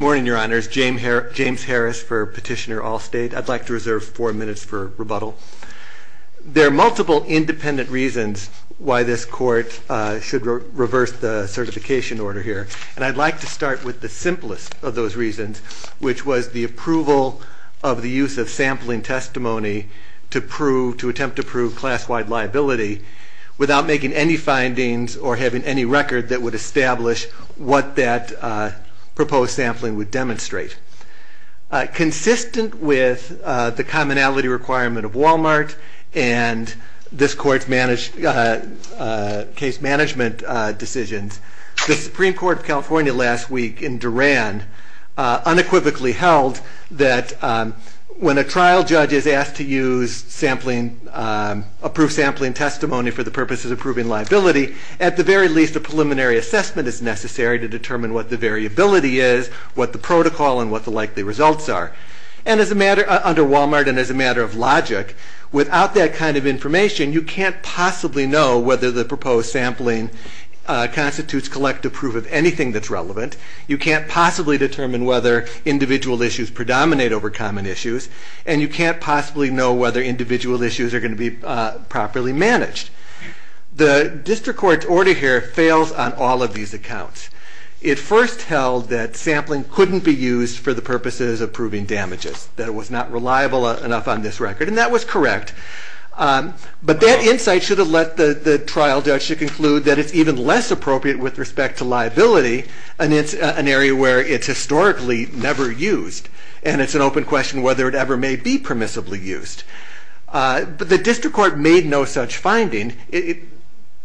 Morning, Your Honors. James Harris for Petitioner Allstate. I'd like to reserve four minutes for rebuttal. There are multiple independent reasons why this court should reverse the certification order here. And I'd like to start with the simplest of those reasons, which was the approval of the use of sampling testimony to attempt to prove class-wide liability without making any findings or having any record that would establish what that proposed sampling would demonstrate. Consistent with the commonality requirement of Walmart and this court's case management decisions, the Supreme Court of California last week in Duran unequivocally held that when a trial judge is asked to use approved sampling testimony for the purposes of proving liability, at the very least, a preliminary assessment is necessary to determine what the variability is, what the protocol, and what the likely results are. And under Walmart, and as a matter of logic, without that kind of information, you can't possibly know whether the proposed sampling constitutes collective proof of anything that's relevant. You can't possibly determine whether individual issues predominate over common issues. And you can't possibly know whether individual issues are going to be properly managed. The district court's order here fails on all of these accounts. It first held that sampling couldn't be used for the purposes of proving damages, that it was not reliable enough on this record. And that was correct. But that insight should have let the trial judge to conclude that it's even less appropriate with respect to liability in an area where it's historically never used. And it's an open question whether it ever may be permissibly used. But the district court made no such finding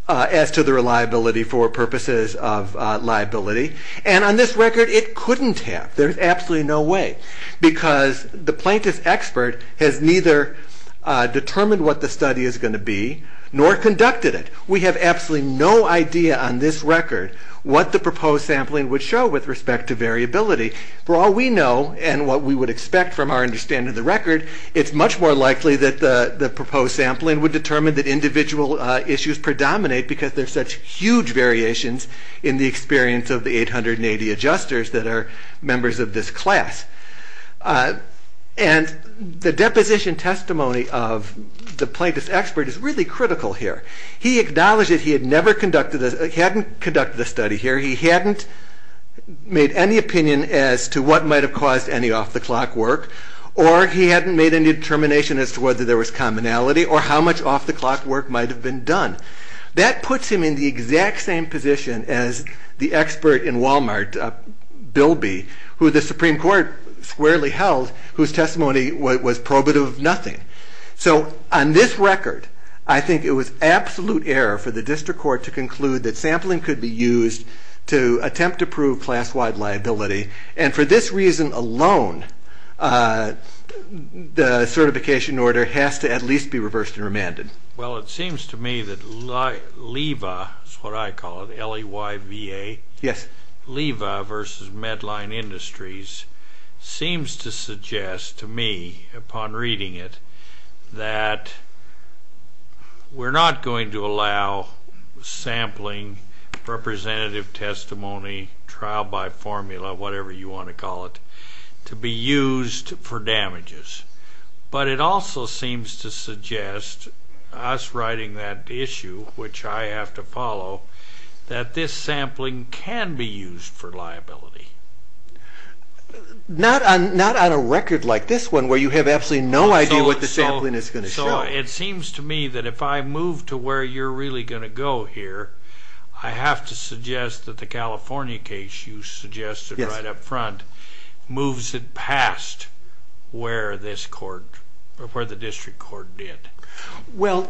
as to the reliability for purposes of liability. And on this record, it couldn't have. There's absolutely no way. Because the plaintiff's expert has neither determined what the study is going to be, nor conducted it. We have absolutely no idea on this record what the proposed sampling would show with respect to variability. For all we know, and what we would expect from our understanding of the record, it's much more likely that the proposed sampling would determine that individual issues predominate, because there's such huge variations in the experience of the 880 adjusters that are members of this class. And the deposition testimony of the plaintiff's expert is really critical here. He acknowledged that he hadn't conducted the study here. He hadn't made any opinion as to what might have caused any off-the-clock work. Or he hadn't made any determination as to whether there was commonality, or how much off-the-clock work might have been done. That puts him in the exact same position as the expert in Walmart, Bilby, who the Supreme Court squarely held, whose testimony was probative of nothing. So on this record, I think it was absolute error for the district court to conclude that sampling could be used to attempt to prove class-wide liability. And for this reason alone, the certification order has to at least be reversed and remanded. Well, it seems to me that LEVA, that's what I call it, L-E-Y-V-A, LEVA versus Medline Industries, seems to suggest to me, upon reading it, that we're not going to allow sampling representative testimony, trial by formula, whatever you want to call it, to be used for damages. But it also seems to suggest, us writing that issue, which I have to follow, that this sampling can be used for liability. Not on a record like this one, where you have absolutely no idea what the sampling is going to show. So it seems to me that if I move to where you're really going to go here, I have to suggest that the California case you suggested right up front moves it past where the district court did. Well,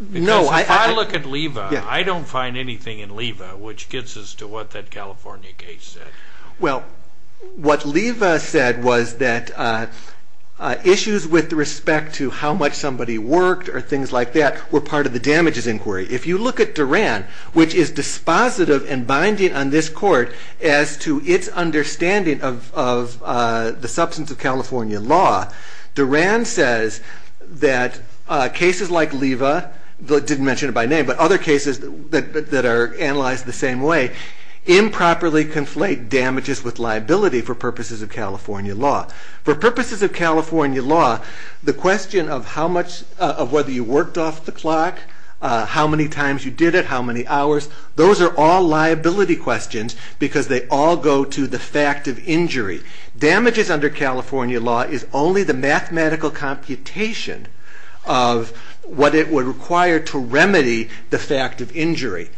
no. Because if I look at LEVA, I don't find anything in LEVA which gets us to what that California case said. Well, what LEVA said was that issues with respect to how much somebody worked or things like that were part of the damages inquiry. If you look at Duran, which is dispositive and binding on this court as to its understanding of the substance of California law, Duran says that cases like LEVA, didn't mention it by name, but other cases that are analyzed the same way, improperly conflate damages with liability for purposes of California law. For purposes of California law, the question of whether you worked off the clock, how many times you did it, how many hours, those are all liability questions because they all go to the fact of injury. Damages under California law is only the mathematical computation of what it would require to remedy the fact of injury.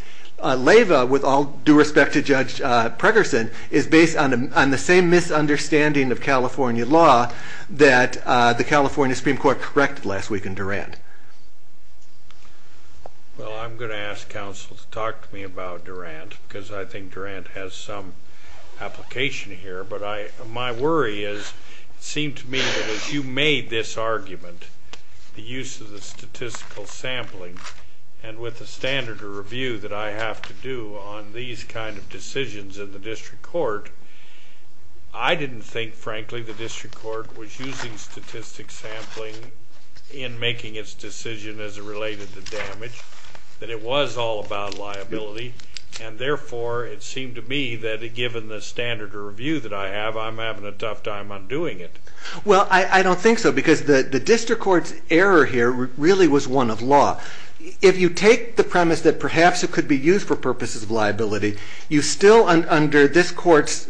LEVA, with all due respect to Judge Pregerson, is based on the same misunderstanding of California law that the California Supreme Court corrected last week in Duran. Well, I'm going to ask counsel to talk to me about Duran because I think Duran has some application here. But my worry is, it seemed to me that as you made this argument, the use of the statistical sampling, and with the standard of review that I have to do on these kind of decisions in the district court, I didn't think, frankly, the district court was using statistics sampling in making its decision as it related to damage, that it was all about liability. And therefore, it seemed to me that, given the standard of review that I have, I'm having a tough time undoing it. Well, I don't think so because the district court's error here really was one of law. If you take the premise that perhaps it could be used for purposes of liability, you still, under this court's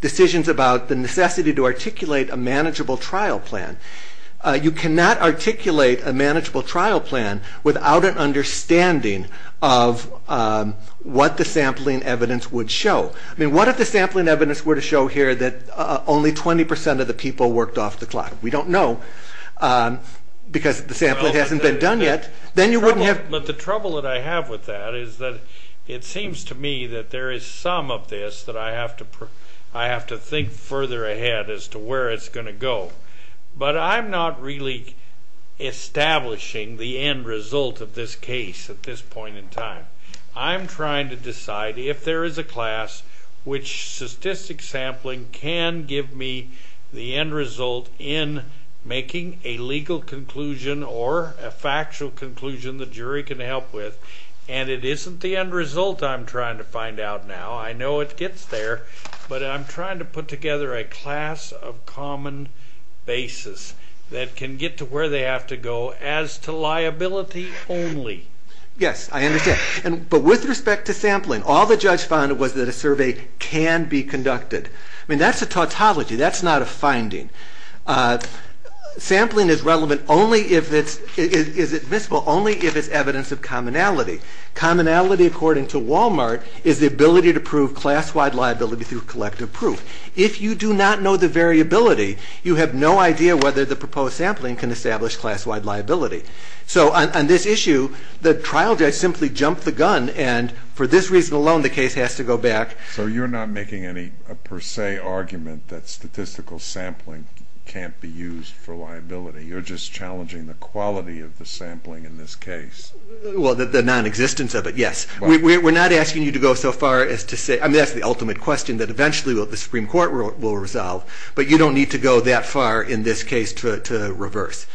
decisions about the necessity to articulate a manageable trial plan, you cannot articulate a manageable trial plan without an understanding of what the sampling evidence would show. I mean, what if the sampling evidence were to show here that only 20% of the people worked off the clock? We don't know because the sampling hasn't been done yet. Then you wouldn't have. But the trouble that I have with that is that it seems to me that there is some of this that I have to think further ahead as to where it's going to go. But I'm not really establishing the end result of this case at this point in time. I'm trying to decide if there is a class which statistics sampling can give me the end result in making a legal conclusion or a factual conclusion the jury can help with. And it isn't the end result I'm trying to find out now. I know it gets there. But I'm trying to put together a class of common basis that can get to where they have to go as to liability only. Yes, I understand. But with respect to sampling, all the judge found was that a survey can be conducted. I mean, that's a tautology. That's not a finding. Sampling is relevant only if it's admissible, only if it's evidence of commonality. Commonality, according to Walmart, is the ability to prove class-wide liability through collective proof. If you do not know the variability, you have no idea whether the proposed sampling can establish class-wide liability. So on this issue, the trial judge simply jumped the gun. And for this reason alone, the case has to go back. So you're not making any per se argument that statistical sampling can't be used for liability. You're just challenging the quality of the sampling in this case. Well, the nonexistence of it, yes. We're not asking you to go so far as to say, I mean, that's the ultimate question that eventually the Supreme Court will resolve. But you don't need to go that far in this case to reverse.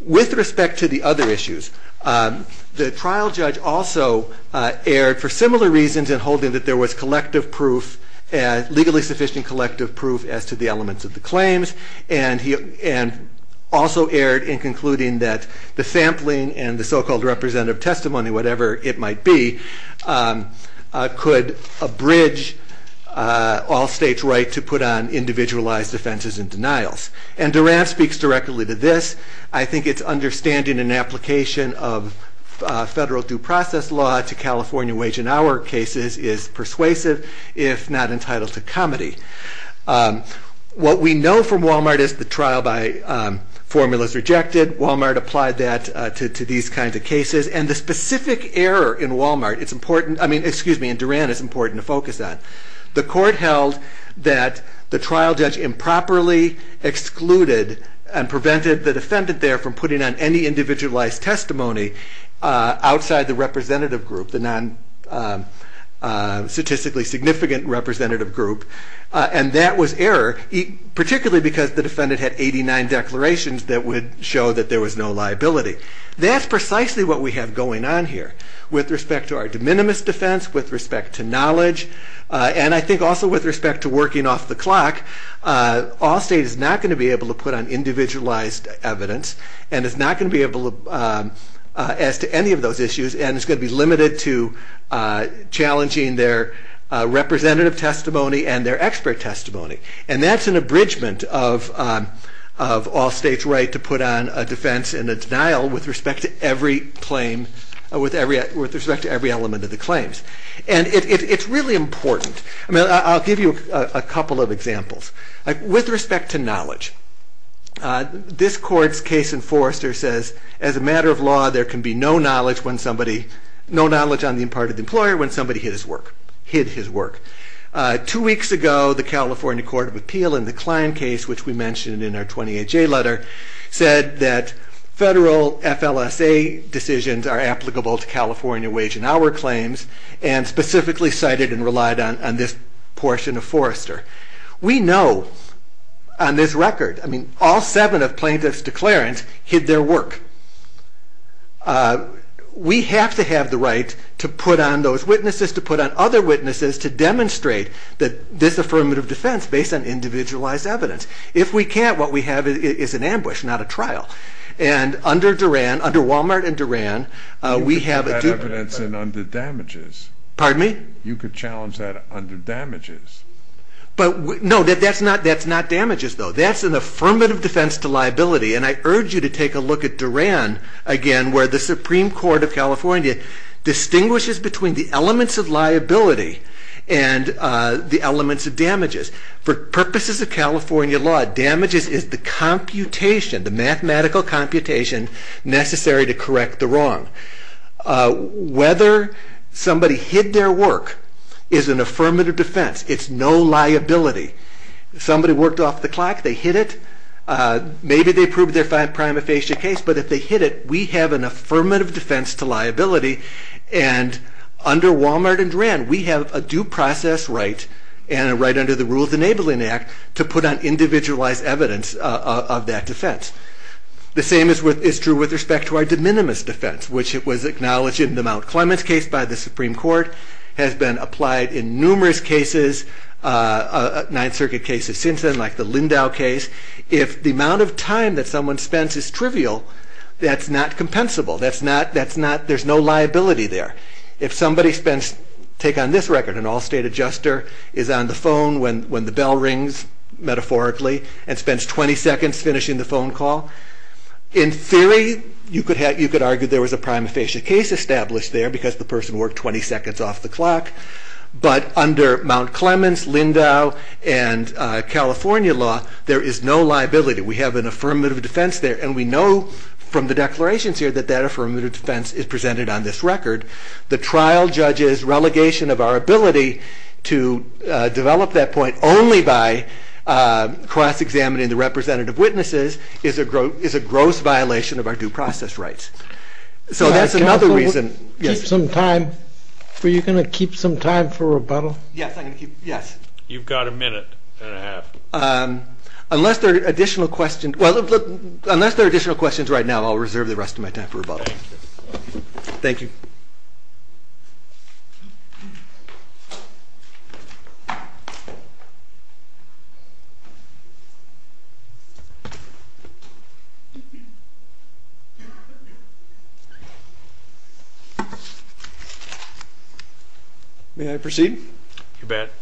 With respect to the other issues, the trial judge also erred for similar reasons in holding that there was collective proof, legally sufficient collective proof, as to the elements of the claims. And also erred in concluding that the sampling and the so-called representative testimony, whatever it might be, could abridge all states' right to put on individualized offenses and denials. And Durant speaks directly to this. I think its understanding and application of federal due process law to California wage and hour cases is persuasive, if not entitled to comedy. What we know from Walmart is the trial by formula is rejected. Walmart applied that to these kinds of cases. And the specific error in Walmart, it's important. I mean, excuse me, in Durant, it's important to focus on. The court held that the trial judge improperly excluded and prevented the defendant there from putting on any individualized testimony outside the representative group, the non-statistically significant representative group. And that was error, particularly because the defendant had 89 declarations that would show that there was no liability. That's precisely what we have going on here with respect to our de minimis defense, with respect to knowledge, and I think also with respect to working off the clock. All state is not going to be able to put on individualized evidence. And it's not going to be able to ask to any of those issues. And it's going to be limited to challenging their representative testimony and their expert testimony. And that's an abridgment of all states' right to put on a defense and a denial with respect to every claim, with respect to every element of the claims. And it's really important. I mean, I'll give you a couple of examples. With respect to knowledge, this court's case enforcer says, as a matter of law, there can be no knowledge when no knowledge on the part of the employer when somebody hid his work. Two weeks ago, the California Court of Appeal in the Klein case, which we mentioned in our 28-J letter, said that federal FLSA decisions are applicable to California wage and hour claims, and specifically cited and relied on this portion of Forrester. We know on this record, I mean, all seven of plaintiffs' declarants hid their work. We have to have the right to put on those witnesses, to put on other witnesses, to demonstrate that this affirmative defense based on individualized evidence. If we can't, what we have is an ambush, not a trial. And under Durand, under Walmart and Durand, we have a dupe. You could put that evidence in under damages. Pardon me? You could challenge that under damages. But no, that's not damages, though. That's an affirmative defense to liability. And I urge you to take a look at Durand, again, where the Supreme Court of California distinguishes between the elements of liability and the elements of damages. For purposes of California law, damages is the computation, the mathematical computation necessary to correct the wrong. Whether somebody hid their work is an affirmative defense. It's no liability. Somebody worked off the clock, they hid it. Maybe they proved their prima facie case. But if they hid it, we have an affirmative defense to liability. And under Walmart and Durand, we have a due process right and a right under the Rules Enabling Act to put on individualized evidence of that defense. The same is true with respect to our de minimis defense, which it was acknowledged in the Mount Clemens case by the Supreme Court, has been applied in numerous cases, Ninth Circuit cases since then, like the Lindau case. If the amount of time that someone spends is trivial, that's not compensable. There's no liability there. If somebody spends, take on this record, an all-state adjuster is on the phone when the bell rings, metaphorically, and spends 20 seconds finishing the phone call. In theory, you could argue there was a prima facie case established there because the person worked 20 seconds off the clock. But under Mount Clemens, Lindau, and California law, there is no liability. We have an affirmative defense there. And we know from the declarations here that that affirmative defense is presented on this record. The trial judge's relegation of our ability to develop that point only by cross-examining the representative witnesses is a gross violation of our due process rights. So that's another reason. Yes? Were you going to keep some time for rebuttal? Yes, I'm going to keep, yes. You've got a minute and a half. Unless there are additional questions right now, I'll reserve the rest of my time for rebuttal. Thank you. May I proceed? You bet.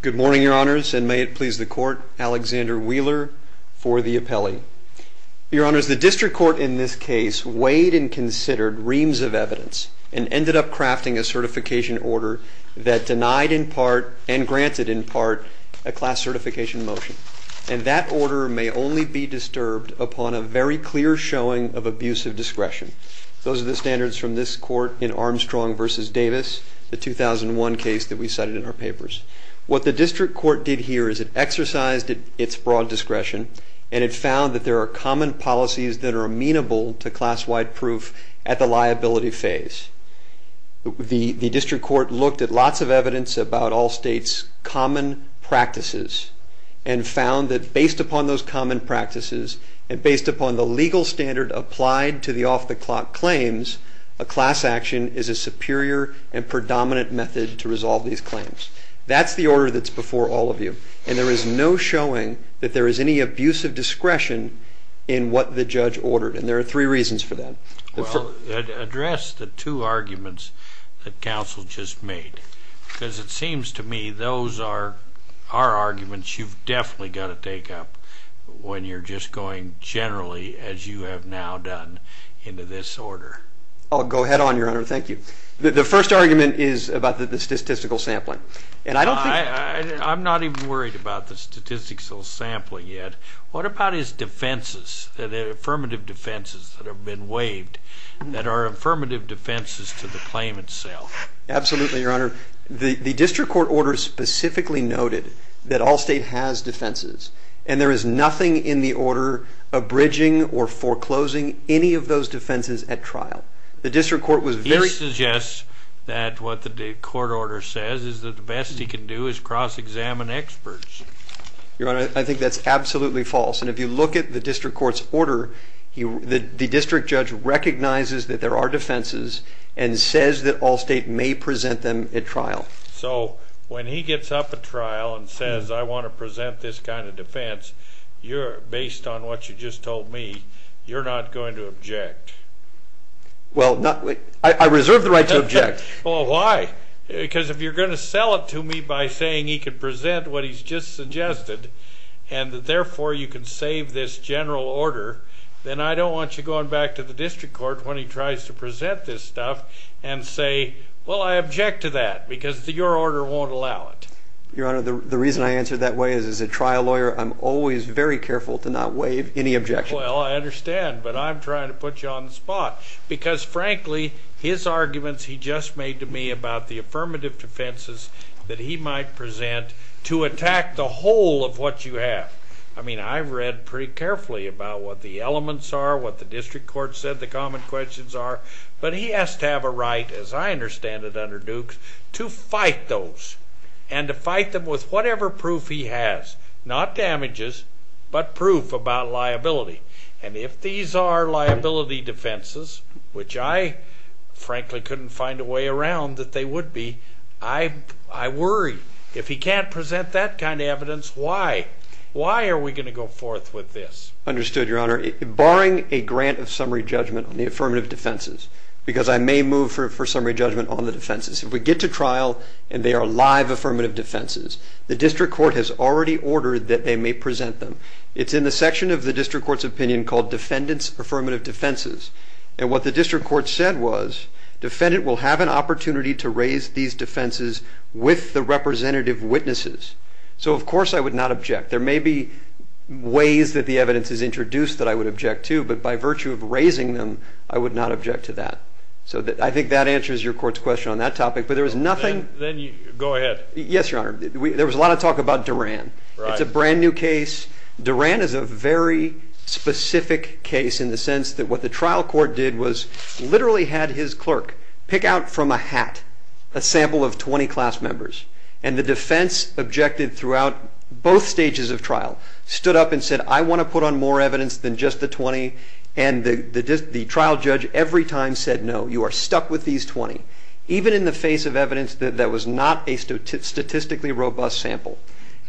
Good morning, Your Honors, and may it please the court, Alexander Wheeler for the appellee. Your Honors, the district court in this case weighed and considered reams of evidence and ended up crafting a certification order that denied in part and granted in part a class certification motion. And that order may only be disturbed upon a very clear showing of abusive discretion. Those are the standards from this court in Armstrong versus Davis, the 2001 case that we cited in our papers. What the district court did here is it exercised its broad discretion and it found that there are common policies that are amenable to class-wide proof at the liability phase. The district court looked at lots of evidence about all states' common practices and found that based upon those common practices and based upon the legal standard applied to the off-the-clock claims, a class action is a superior and predominant method to resolve these claims. That's the order that's before all of you. And there is no showing that there is any abusive discretion in what the judge ordered. And there are three reasons for that. Well, address the two arguments that counsel just made. Because it seems to me those are arguments you've definitely got to take up when you're just going generally, as you have now done, into this order. Oh, go ahead, Your Honor. Thank you. The first argument is about the statistical sampling. And I don't think- I'm not even worried about the statistical sampling yet. What about his defenses, the affirmative defenses that have been waived, that are affirmative defenses to the claim itself? Absolutely, Your Honor. The district court order specifically noted that all state has defenses. And there is nothing in the order abridging or foreclosing any of those defenses at trial. The district court was very- He suggests that what the court order says is that the best he can do is cross-examine experts. Your Honor, I think that's absolutely false. And if you look at the district court's order, the district judge recognizes that there are defenses and says that all state may present them at trial. So when he gets up at trial and says, I want to present this kind of defense, you're, based on what you just told me, you're not going to object. Well, I reserve the right to object. Well, why? Because if you're going to sell it to me by saying he can present what he's just suggested and that therefore you can save this general order, then I don't want you going back to the district court when he tries to present this stuff and say, well, I object to that because your order won't allow it. Your Honor, the reason I answer that way is as a trial lawyer, I'm always very careful to not waive any objection. Well, I understand. But I'm trying to put you on the spot. Because frankly, his arguments he just made to me about the affirmative defenses that he might present to attack the whole of what you have. I mean, I've read pretty carefully about what the elements are, what the district court said, the common questions are. But he has to have a right, as I understand it under Dukes, to fight those and to fight them with whatever proof he has. Not damages, but proof about liability. And if these are liability defenses, which I frankly couldn't find a way around that they would be, I worry. If he can't present that kind of evidence, why? Why are we going to go forth with this? Understood, Your Honor. Barring a grant of summary judgment on the affirmative defenses, because I may move for summary judgment on the defenses, if we get to trial and they are live affirmative defenses, the district court has already ordered that they may present them. It's in the section of the district court's opinion called Defendant's Affirmative Defenses. And what the district court said was, defendant will have an opportunity to raise these defenses with the representative witnesses. So of course I would not object. There may be ways that the evidence is introduced that I would object to. But by virtue of raising them, I would not object to that. So I think that answers your court's question on that topic. But there is nothing. Then you go ahead. Yes, Your Honor. There was a lot of talk about Duran. It's a brand new case. Duran is a very specific case in the sense that what the trial court did was literally had his clerk pick out from a hat a sample of 20 class members. And the defense objected throughout both stages of trial, stood up and said, I want to put on more evidence than just the 20. And the trial judge every time said, no, you are stuck with these 20. Even in the face of evidence that was not a statistically robust sample.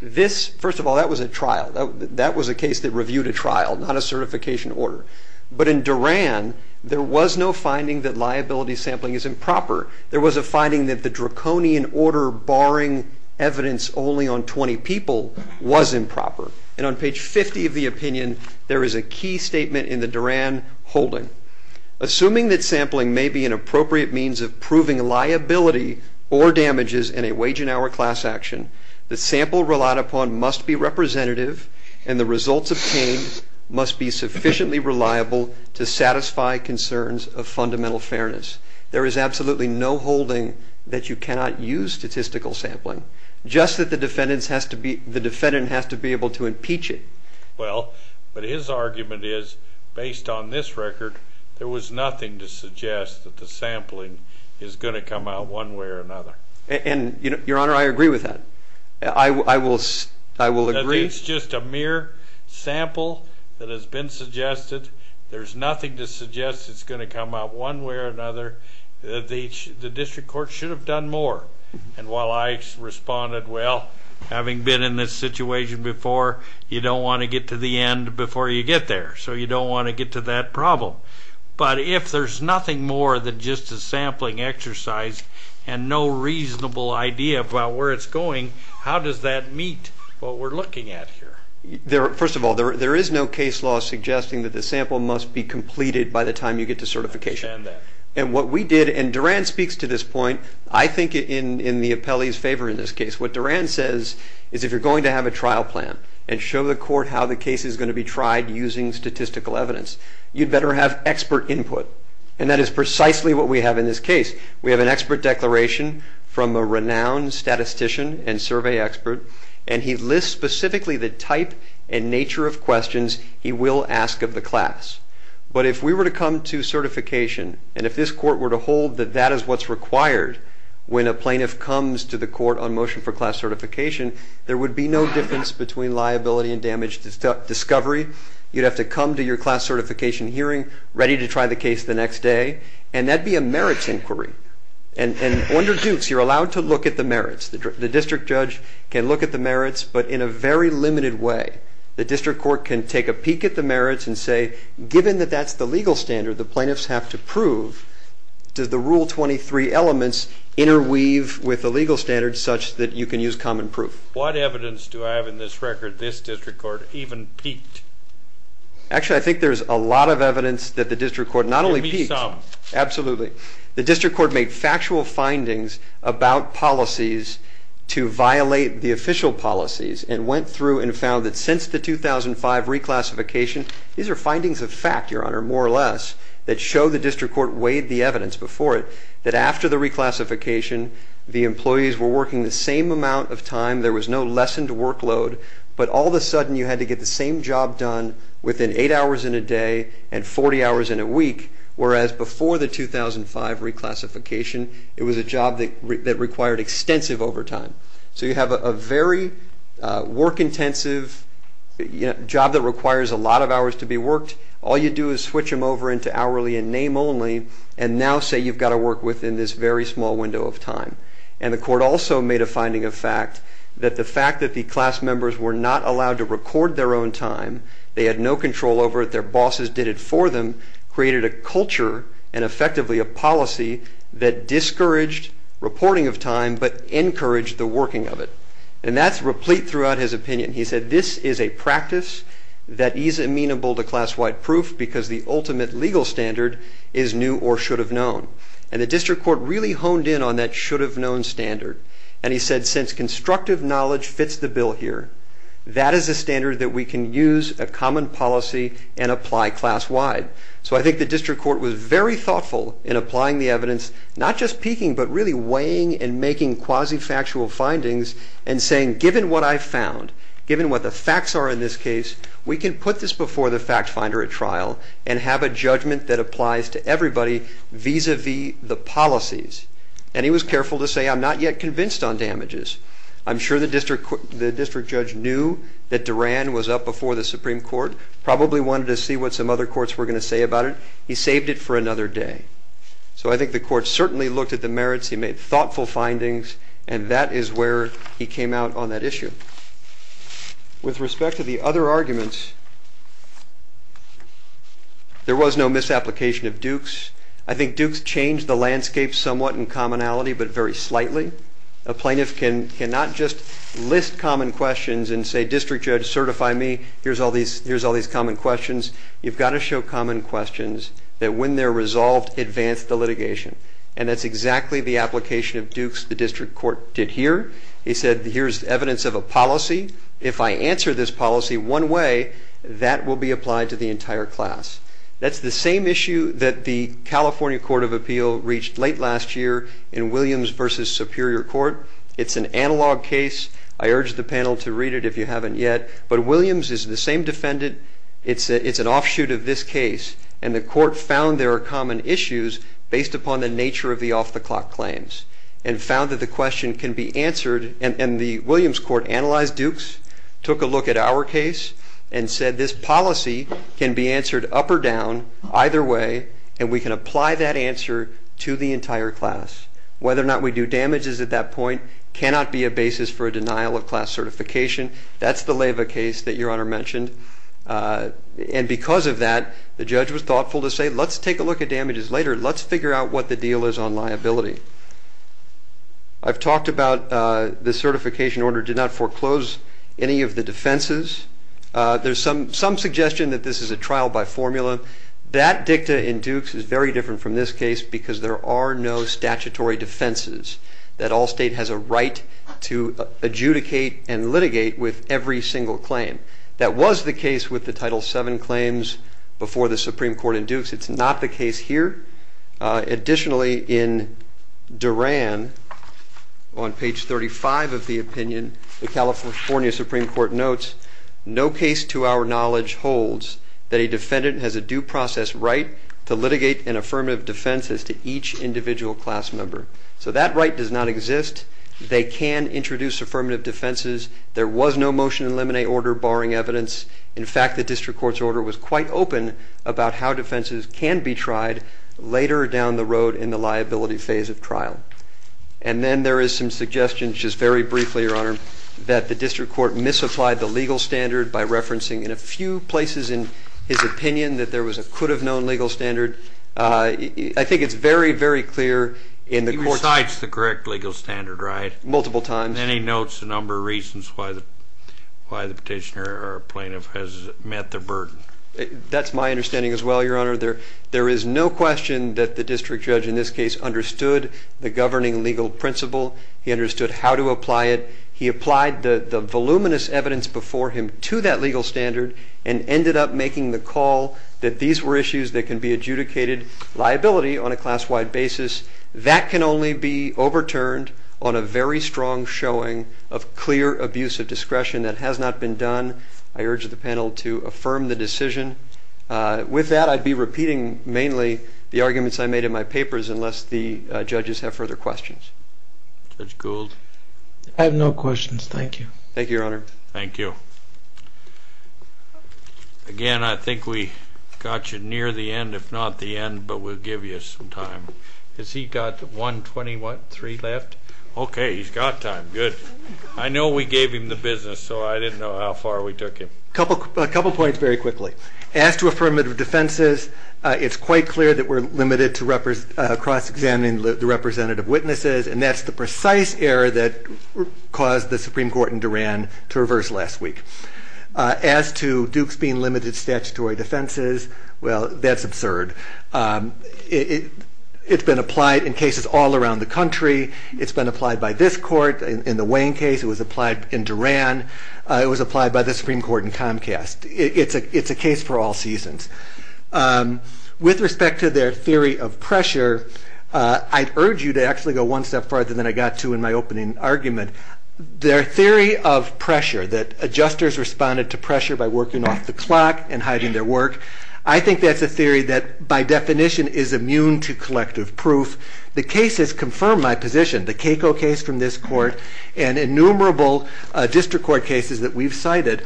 First of all, that was a trial. That was a case that reviewed a trial, not a certification order. But in Duran, there was no finding that liability sampling is improper. There was a finding that the draconian order barring evidence only on 20 people was improper. And on page 50 of the opinion, there is a key statement in the Duran holding. Assuming that sampling may be an appropriate means of proving liability or damages in a wage and hour class action, the sample relied upon must be representative. And the results obtained must be sufficiently reliable to satisfy concerns of fundamental fairness. There is absolutely no holding that you cannot use statistical sampling. Just that the defendant has to be able to impeach it. Well, but his argument is, based on this record, there was nothing to suggest that the sampling is going to come out one way or another. And your honor, I agree with that. I will agree. That it's just a mere sample that has been suggested. There's nothing to suggest it's going to come out one way or another. The district court should have done more. And while I responded, well, having been in this situation before, you don't want to get to the end before you get there. So you don't want to get to that problem. But if there's nothing more than just a sampling exercise and no reasonable idea about where it's going, how does that meet what we're looking at here? First of all, there is no case law suggesting that the sample must be completed by the time you get to certification. And what we did, and Duran speaks to this point, I think in the appellee's favor in this case. What Duran says is, if you're going to have a trial plan and show the court how the case is going to be tried using statistical evidence, you'd better have expert input. And that is precisely what we have in this case. We have an expert declaration from a renowned statistician and survey expert. And he lists specifically the type and nature of questions he will ask of the class. But if we were to come to certification, and if this court were to hold that that is what's required when a plaintiff comes to the court on motion for class certification, there would be no difference between liability and damage discovery. You'd have to come to your class certification hearing ready to try the case the next day. And that'd be a merits inquiry. And under Dukes, you're allowed to look at the merits. The district judge can look at the merits, but in a very limited way. The district court can take a peek at the merits and say, given that that's the legal standard the plaintiffs have to prove, does the Rule 23 elements interweave with the legal standards such that you can use common proof? What evidence do I have in this record this district court even peeked? Actually, I think there's a lot of evidence that the district court not only peeked. Absolutely. The district court made factual findings about policies to violate the official policies and went through and found that since the 2005 reclassification, these are findings of fact, Your Honor, more or less, that show the district court weighed the evidence before it that after the reclassification, the employees were working the same amount of time. There was no lessened workload. But all of a sudden, you had to get the same job done within eight hours in a day and 40 hours in a week, whereas before the 2005 reclassification, it was a job that required extensive overtime. So you have a very work-intensive job that requires a lot of hours to be worked. All you do is switch them over into hourly and name only, and now say you've got to work within this very small window of time. And the court also made a finding of fact that the fact that the class members were not allowed to record their own time, they had no control over it, their bosses did it for them, created a culture and effectively a policy that discouraged reporting of time but encouraged the working of it. And that's replete throughout his opinion. He said, this is a practice that is amenable to class-wide proof because the ultimate legal standard is new or should have known. And the district court really honed in on that should have known standard. And he said, since constructive knowledge fits the bill here, that is a standard that we can use a common policy and apply class-wide. So I think the district court was very thoughtful in applying the evidence, not just peaking, but really weighing and making quasi-factual findings and saying, given what I found, given what the facts are in this case, we can put this before the fact finder at trial and have a judgment that applies to everybody vis-a-vis the policies. And he was careful to say, I'm not yet convinced on damages. I'm sure the district judge knew that Duran was up before the Supreme Court, probably wanted to see what some other courts were going to say about it. He saved it for another day. So I think the court certainly looked at the merits. He made thoughtful findings. And that is where he came out on that issue. With respect to the other arguments, there was no misapplication of Duke's. I think Duke's changed the landscape somewhat in commonality, but very slightly. A plaintiff cannot just list common questions and say, district judge, certify me. Here's all these common questions. You've got to show common questions that, when they're resolved, advance the litigation. And that's exactly the application of Duke's the district court did here. He said, here's evidence of a policy. If I answer this policy one way, that will be applied to the entire class. That's the same issue that the California Court of Appeal reached late last year in Williams versus Superior Court. It's an analog case. I urge the panel to read it if you haven't yet. But Williams is the same defendant. It's an offshoot of this case. And the court found there are common issues based upon the nature of the off-the-clock claims and found that the question can be answered. And the Williams court analyzed Duke's, took a look at our case, and said this policy can be answered up or down, either way, and we can apply that answer to the entire class. Whether or not we do damages at that point cannot be a basis for a denial of class certification. That's the Leyva case that Your Honor mentioned. And because of that, the judge was thoughtful to say, let's take a look at damages later. Let's figure out what the deal is on liability. I've talked about the certification order did not foreclose any of the defenses. There's some suggestion that this is a trial by formula. That dicta in Dukes is very different from this case because there are no statutory defenses, that all state has a right to adjudicate and litigate with every single claim. That was the case with the Title VII claims before the Supreme Court in Dukes. It's not the case here. Additionally, in Duran, on page 35 of the opinion, the California Supreme Court notes, no case to our knowledge holds that a defendant has a due process right to litigate an affirmative defense as to each individual class member. So that right does not exist. They can introduce affirmative defenses. There was no motion in limine order barring evidence. In fact, the district court's order was quite open about how defenses can be tried later down the road in the liability phase of trial. And then there is some suggestions, just very briefly, Your Honor, that the district court misapplied the legal standard by referencing in a few places in his opinion that there was a could have known legal standard. I think it's very, very clear in the court's He recites the correct legal standard, right? Multiple times. And then he notes a number of reasons why the petitioner or plaintiff has met the burden. That's my understanding as well, Your Honor. There is no question that the district judge in this case understood the governing legal principle. He understood how to apply it. He applied the voluminous evidence before him to that legal standard and ended up making the call that these were issues that can be adjudicated liability on a class-wide basis. That can only be overturned on a very strong showing of clear abuse of discretion. That has not been done. I urge the panel to affirm the decision. With that, I'd be repeating mainly the arguments I made in my papers unless the judges have further questions. Judge Gould? I have no questions. Thank you. Thank you, Your Honor. Thank you. Again, I think we got you near the end, if not the end, but we'll give you some time. Has he got 1.23 left? OK, he's got time. Good. I know we gave him the business, so I didn't know how far we took him. A couple of points very quickly. As to affirmative defenses, it's quite clear that we're limited to cross-examining the representative witnesses, and that's the precise error that caused the Supreme Court in Duran to reverse last week. As to Duke's being limited to statutory defenses, well, that's absurd. It's been applied in cases all around the country. It's been applied by this court in the Wayne case. It was applied in Duran. It was applied by the Supreme Court in Comcast. It's a case for all seasons. With respect to their theory of pressure, I'd urge you to actually go one step farther than I got to in my opening argument. Their theory of pressure, that adjusters responded to pressure by working off the clock and hiding their work, I think that's a theory that, by definition, is immune to collective proof. The cases confirm my position. The Keiko case from this court and innumerable district court cases that we've cited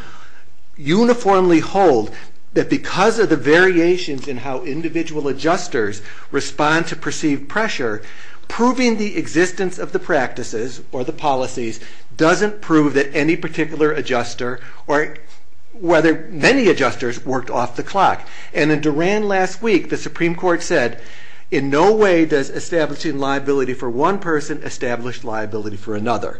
uniformly hold that because of the variations in how individual adjusters respond to perceived pressure, proving the existence of the practices or the policies doesn't prove that any particular adjuster or whether many adjusters worked off the clock. And in Duran last week, the Supreme Court said, in no way does establishing liability for one person establish liability for another.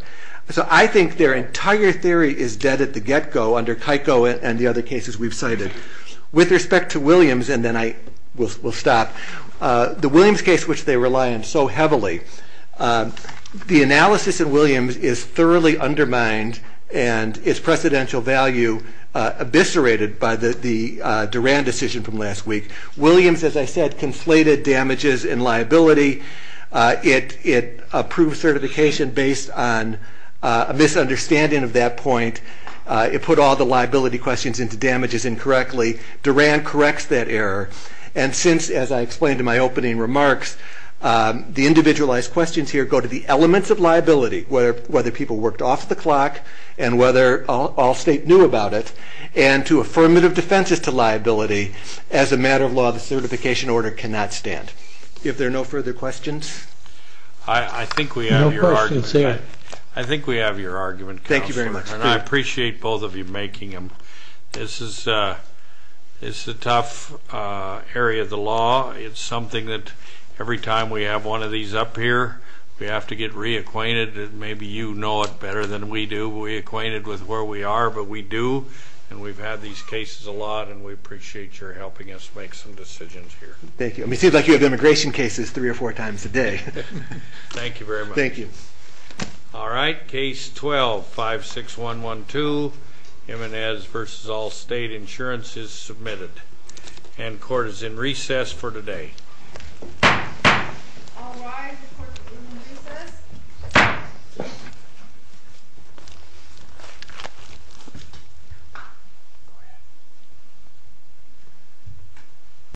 So I think their entire theory is dead at the get-go under Keiko and the other cases we've cited. With respect to Williams, and then I will stop, the Williams case, which they rely on so heavily, the analysis in Williams is thoroughly undermined and its precedential value eviscerated by the Duran decision from last week. Williams, as I said, conflated damages and liability. It approved certification based on a misunderstanding of that point. It put all the liability questions into damages incorrectly. Duran corrects that error. And since, as I explained in my opening remarks, the individualized questions here go to the elements of liability, whether people worked off the clock and whether all state knew about it, and to affirmative defenses to liability, as a matter of law, the certification order cannot stand. I think we have your argument. I think we have your argument, counsel. I appreciate both of you making them. This is a tough area of the law. It's something that every time we have one of these up here, we have to get reacquainted. Maybe you know it better than we do. We're acquainted with where we are, but we do. And we've had these cases a lot, and we appreciate your helping us make some decisions here. Thank you. It seems like you have immigration cases three or four times a day. Thank you very much. Thank you. All right, case 12, 56112, Jimenez versus all state insurance is submitted. And court is in recess for today. All rise, the court is in recess.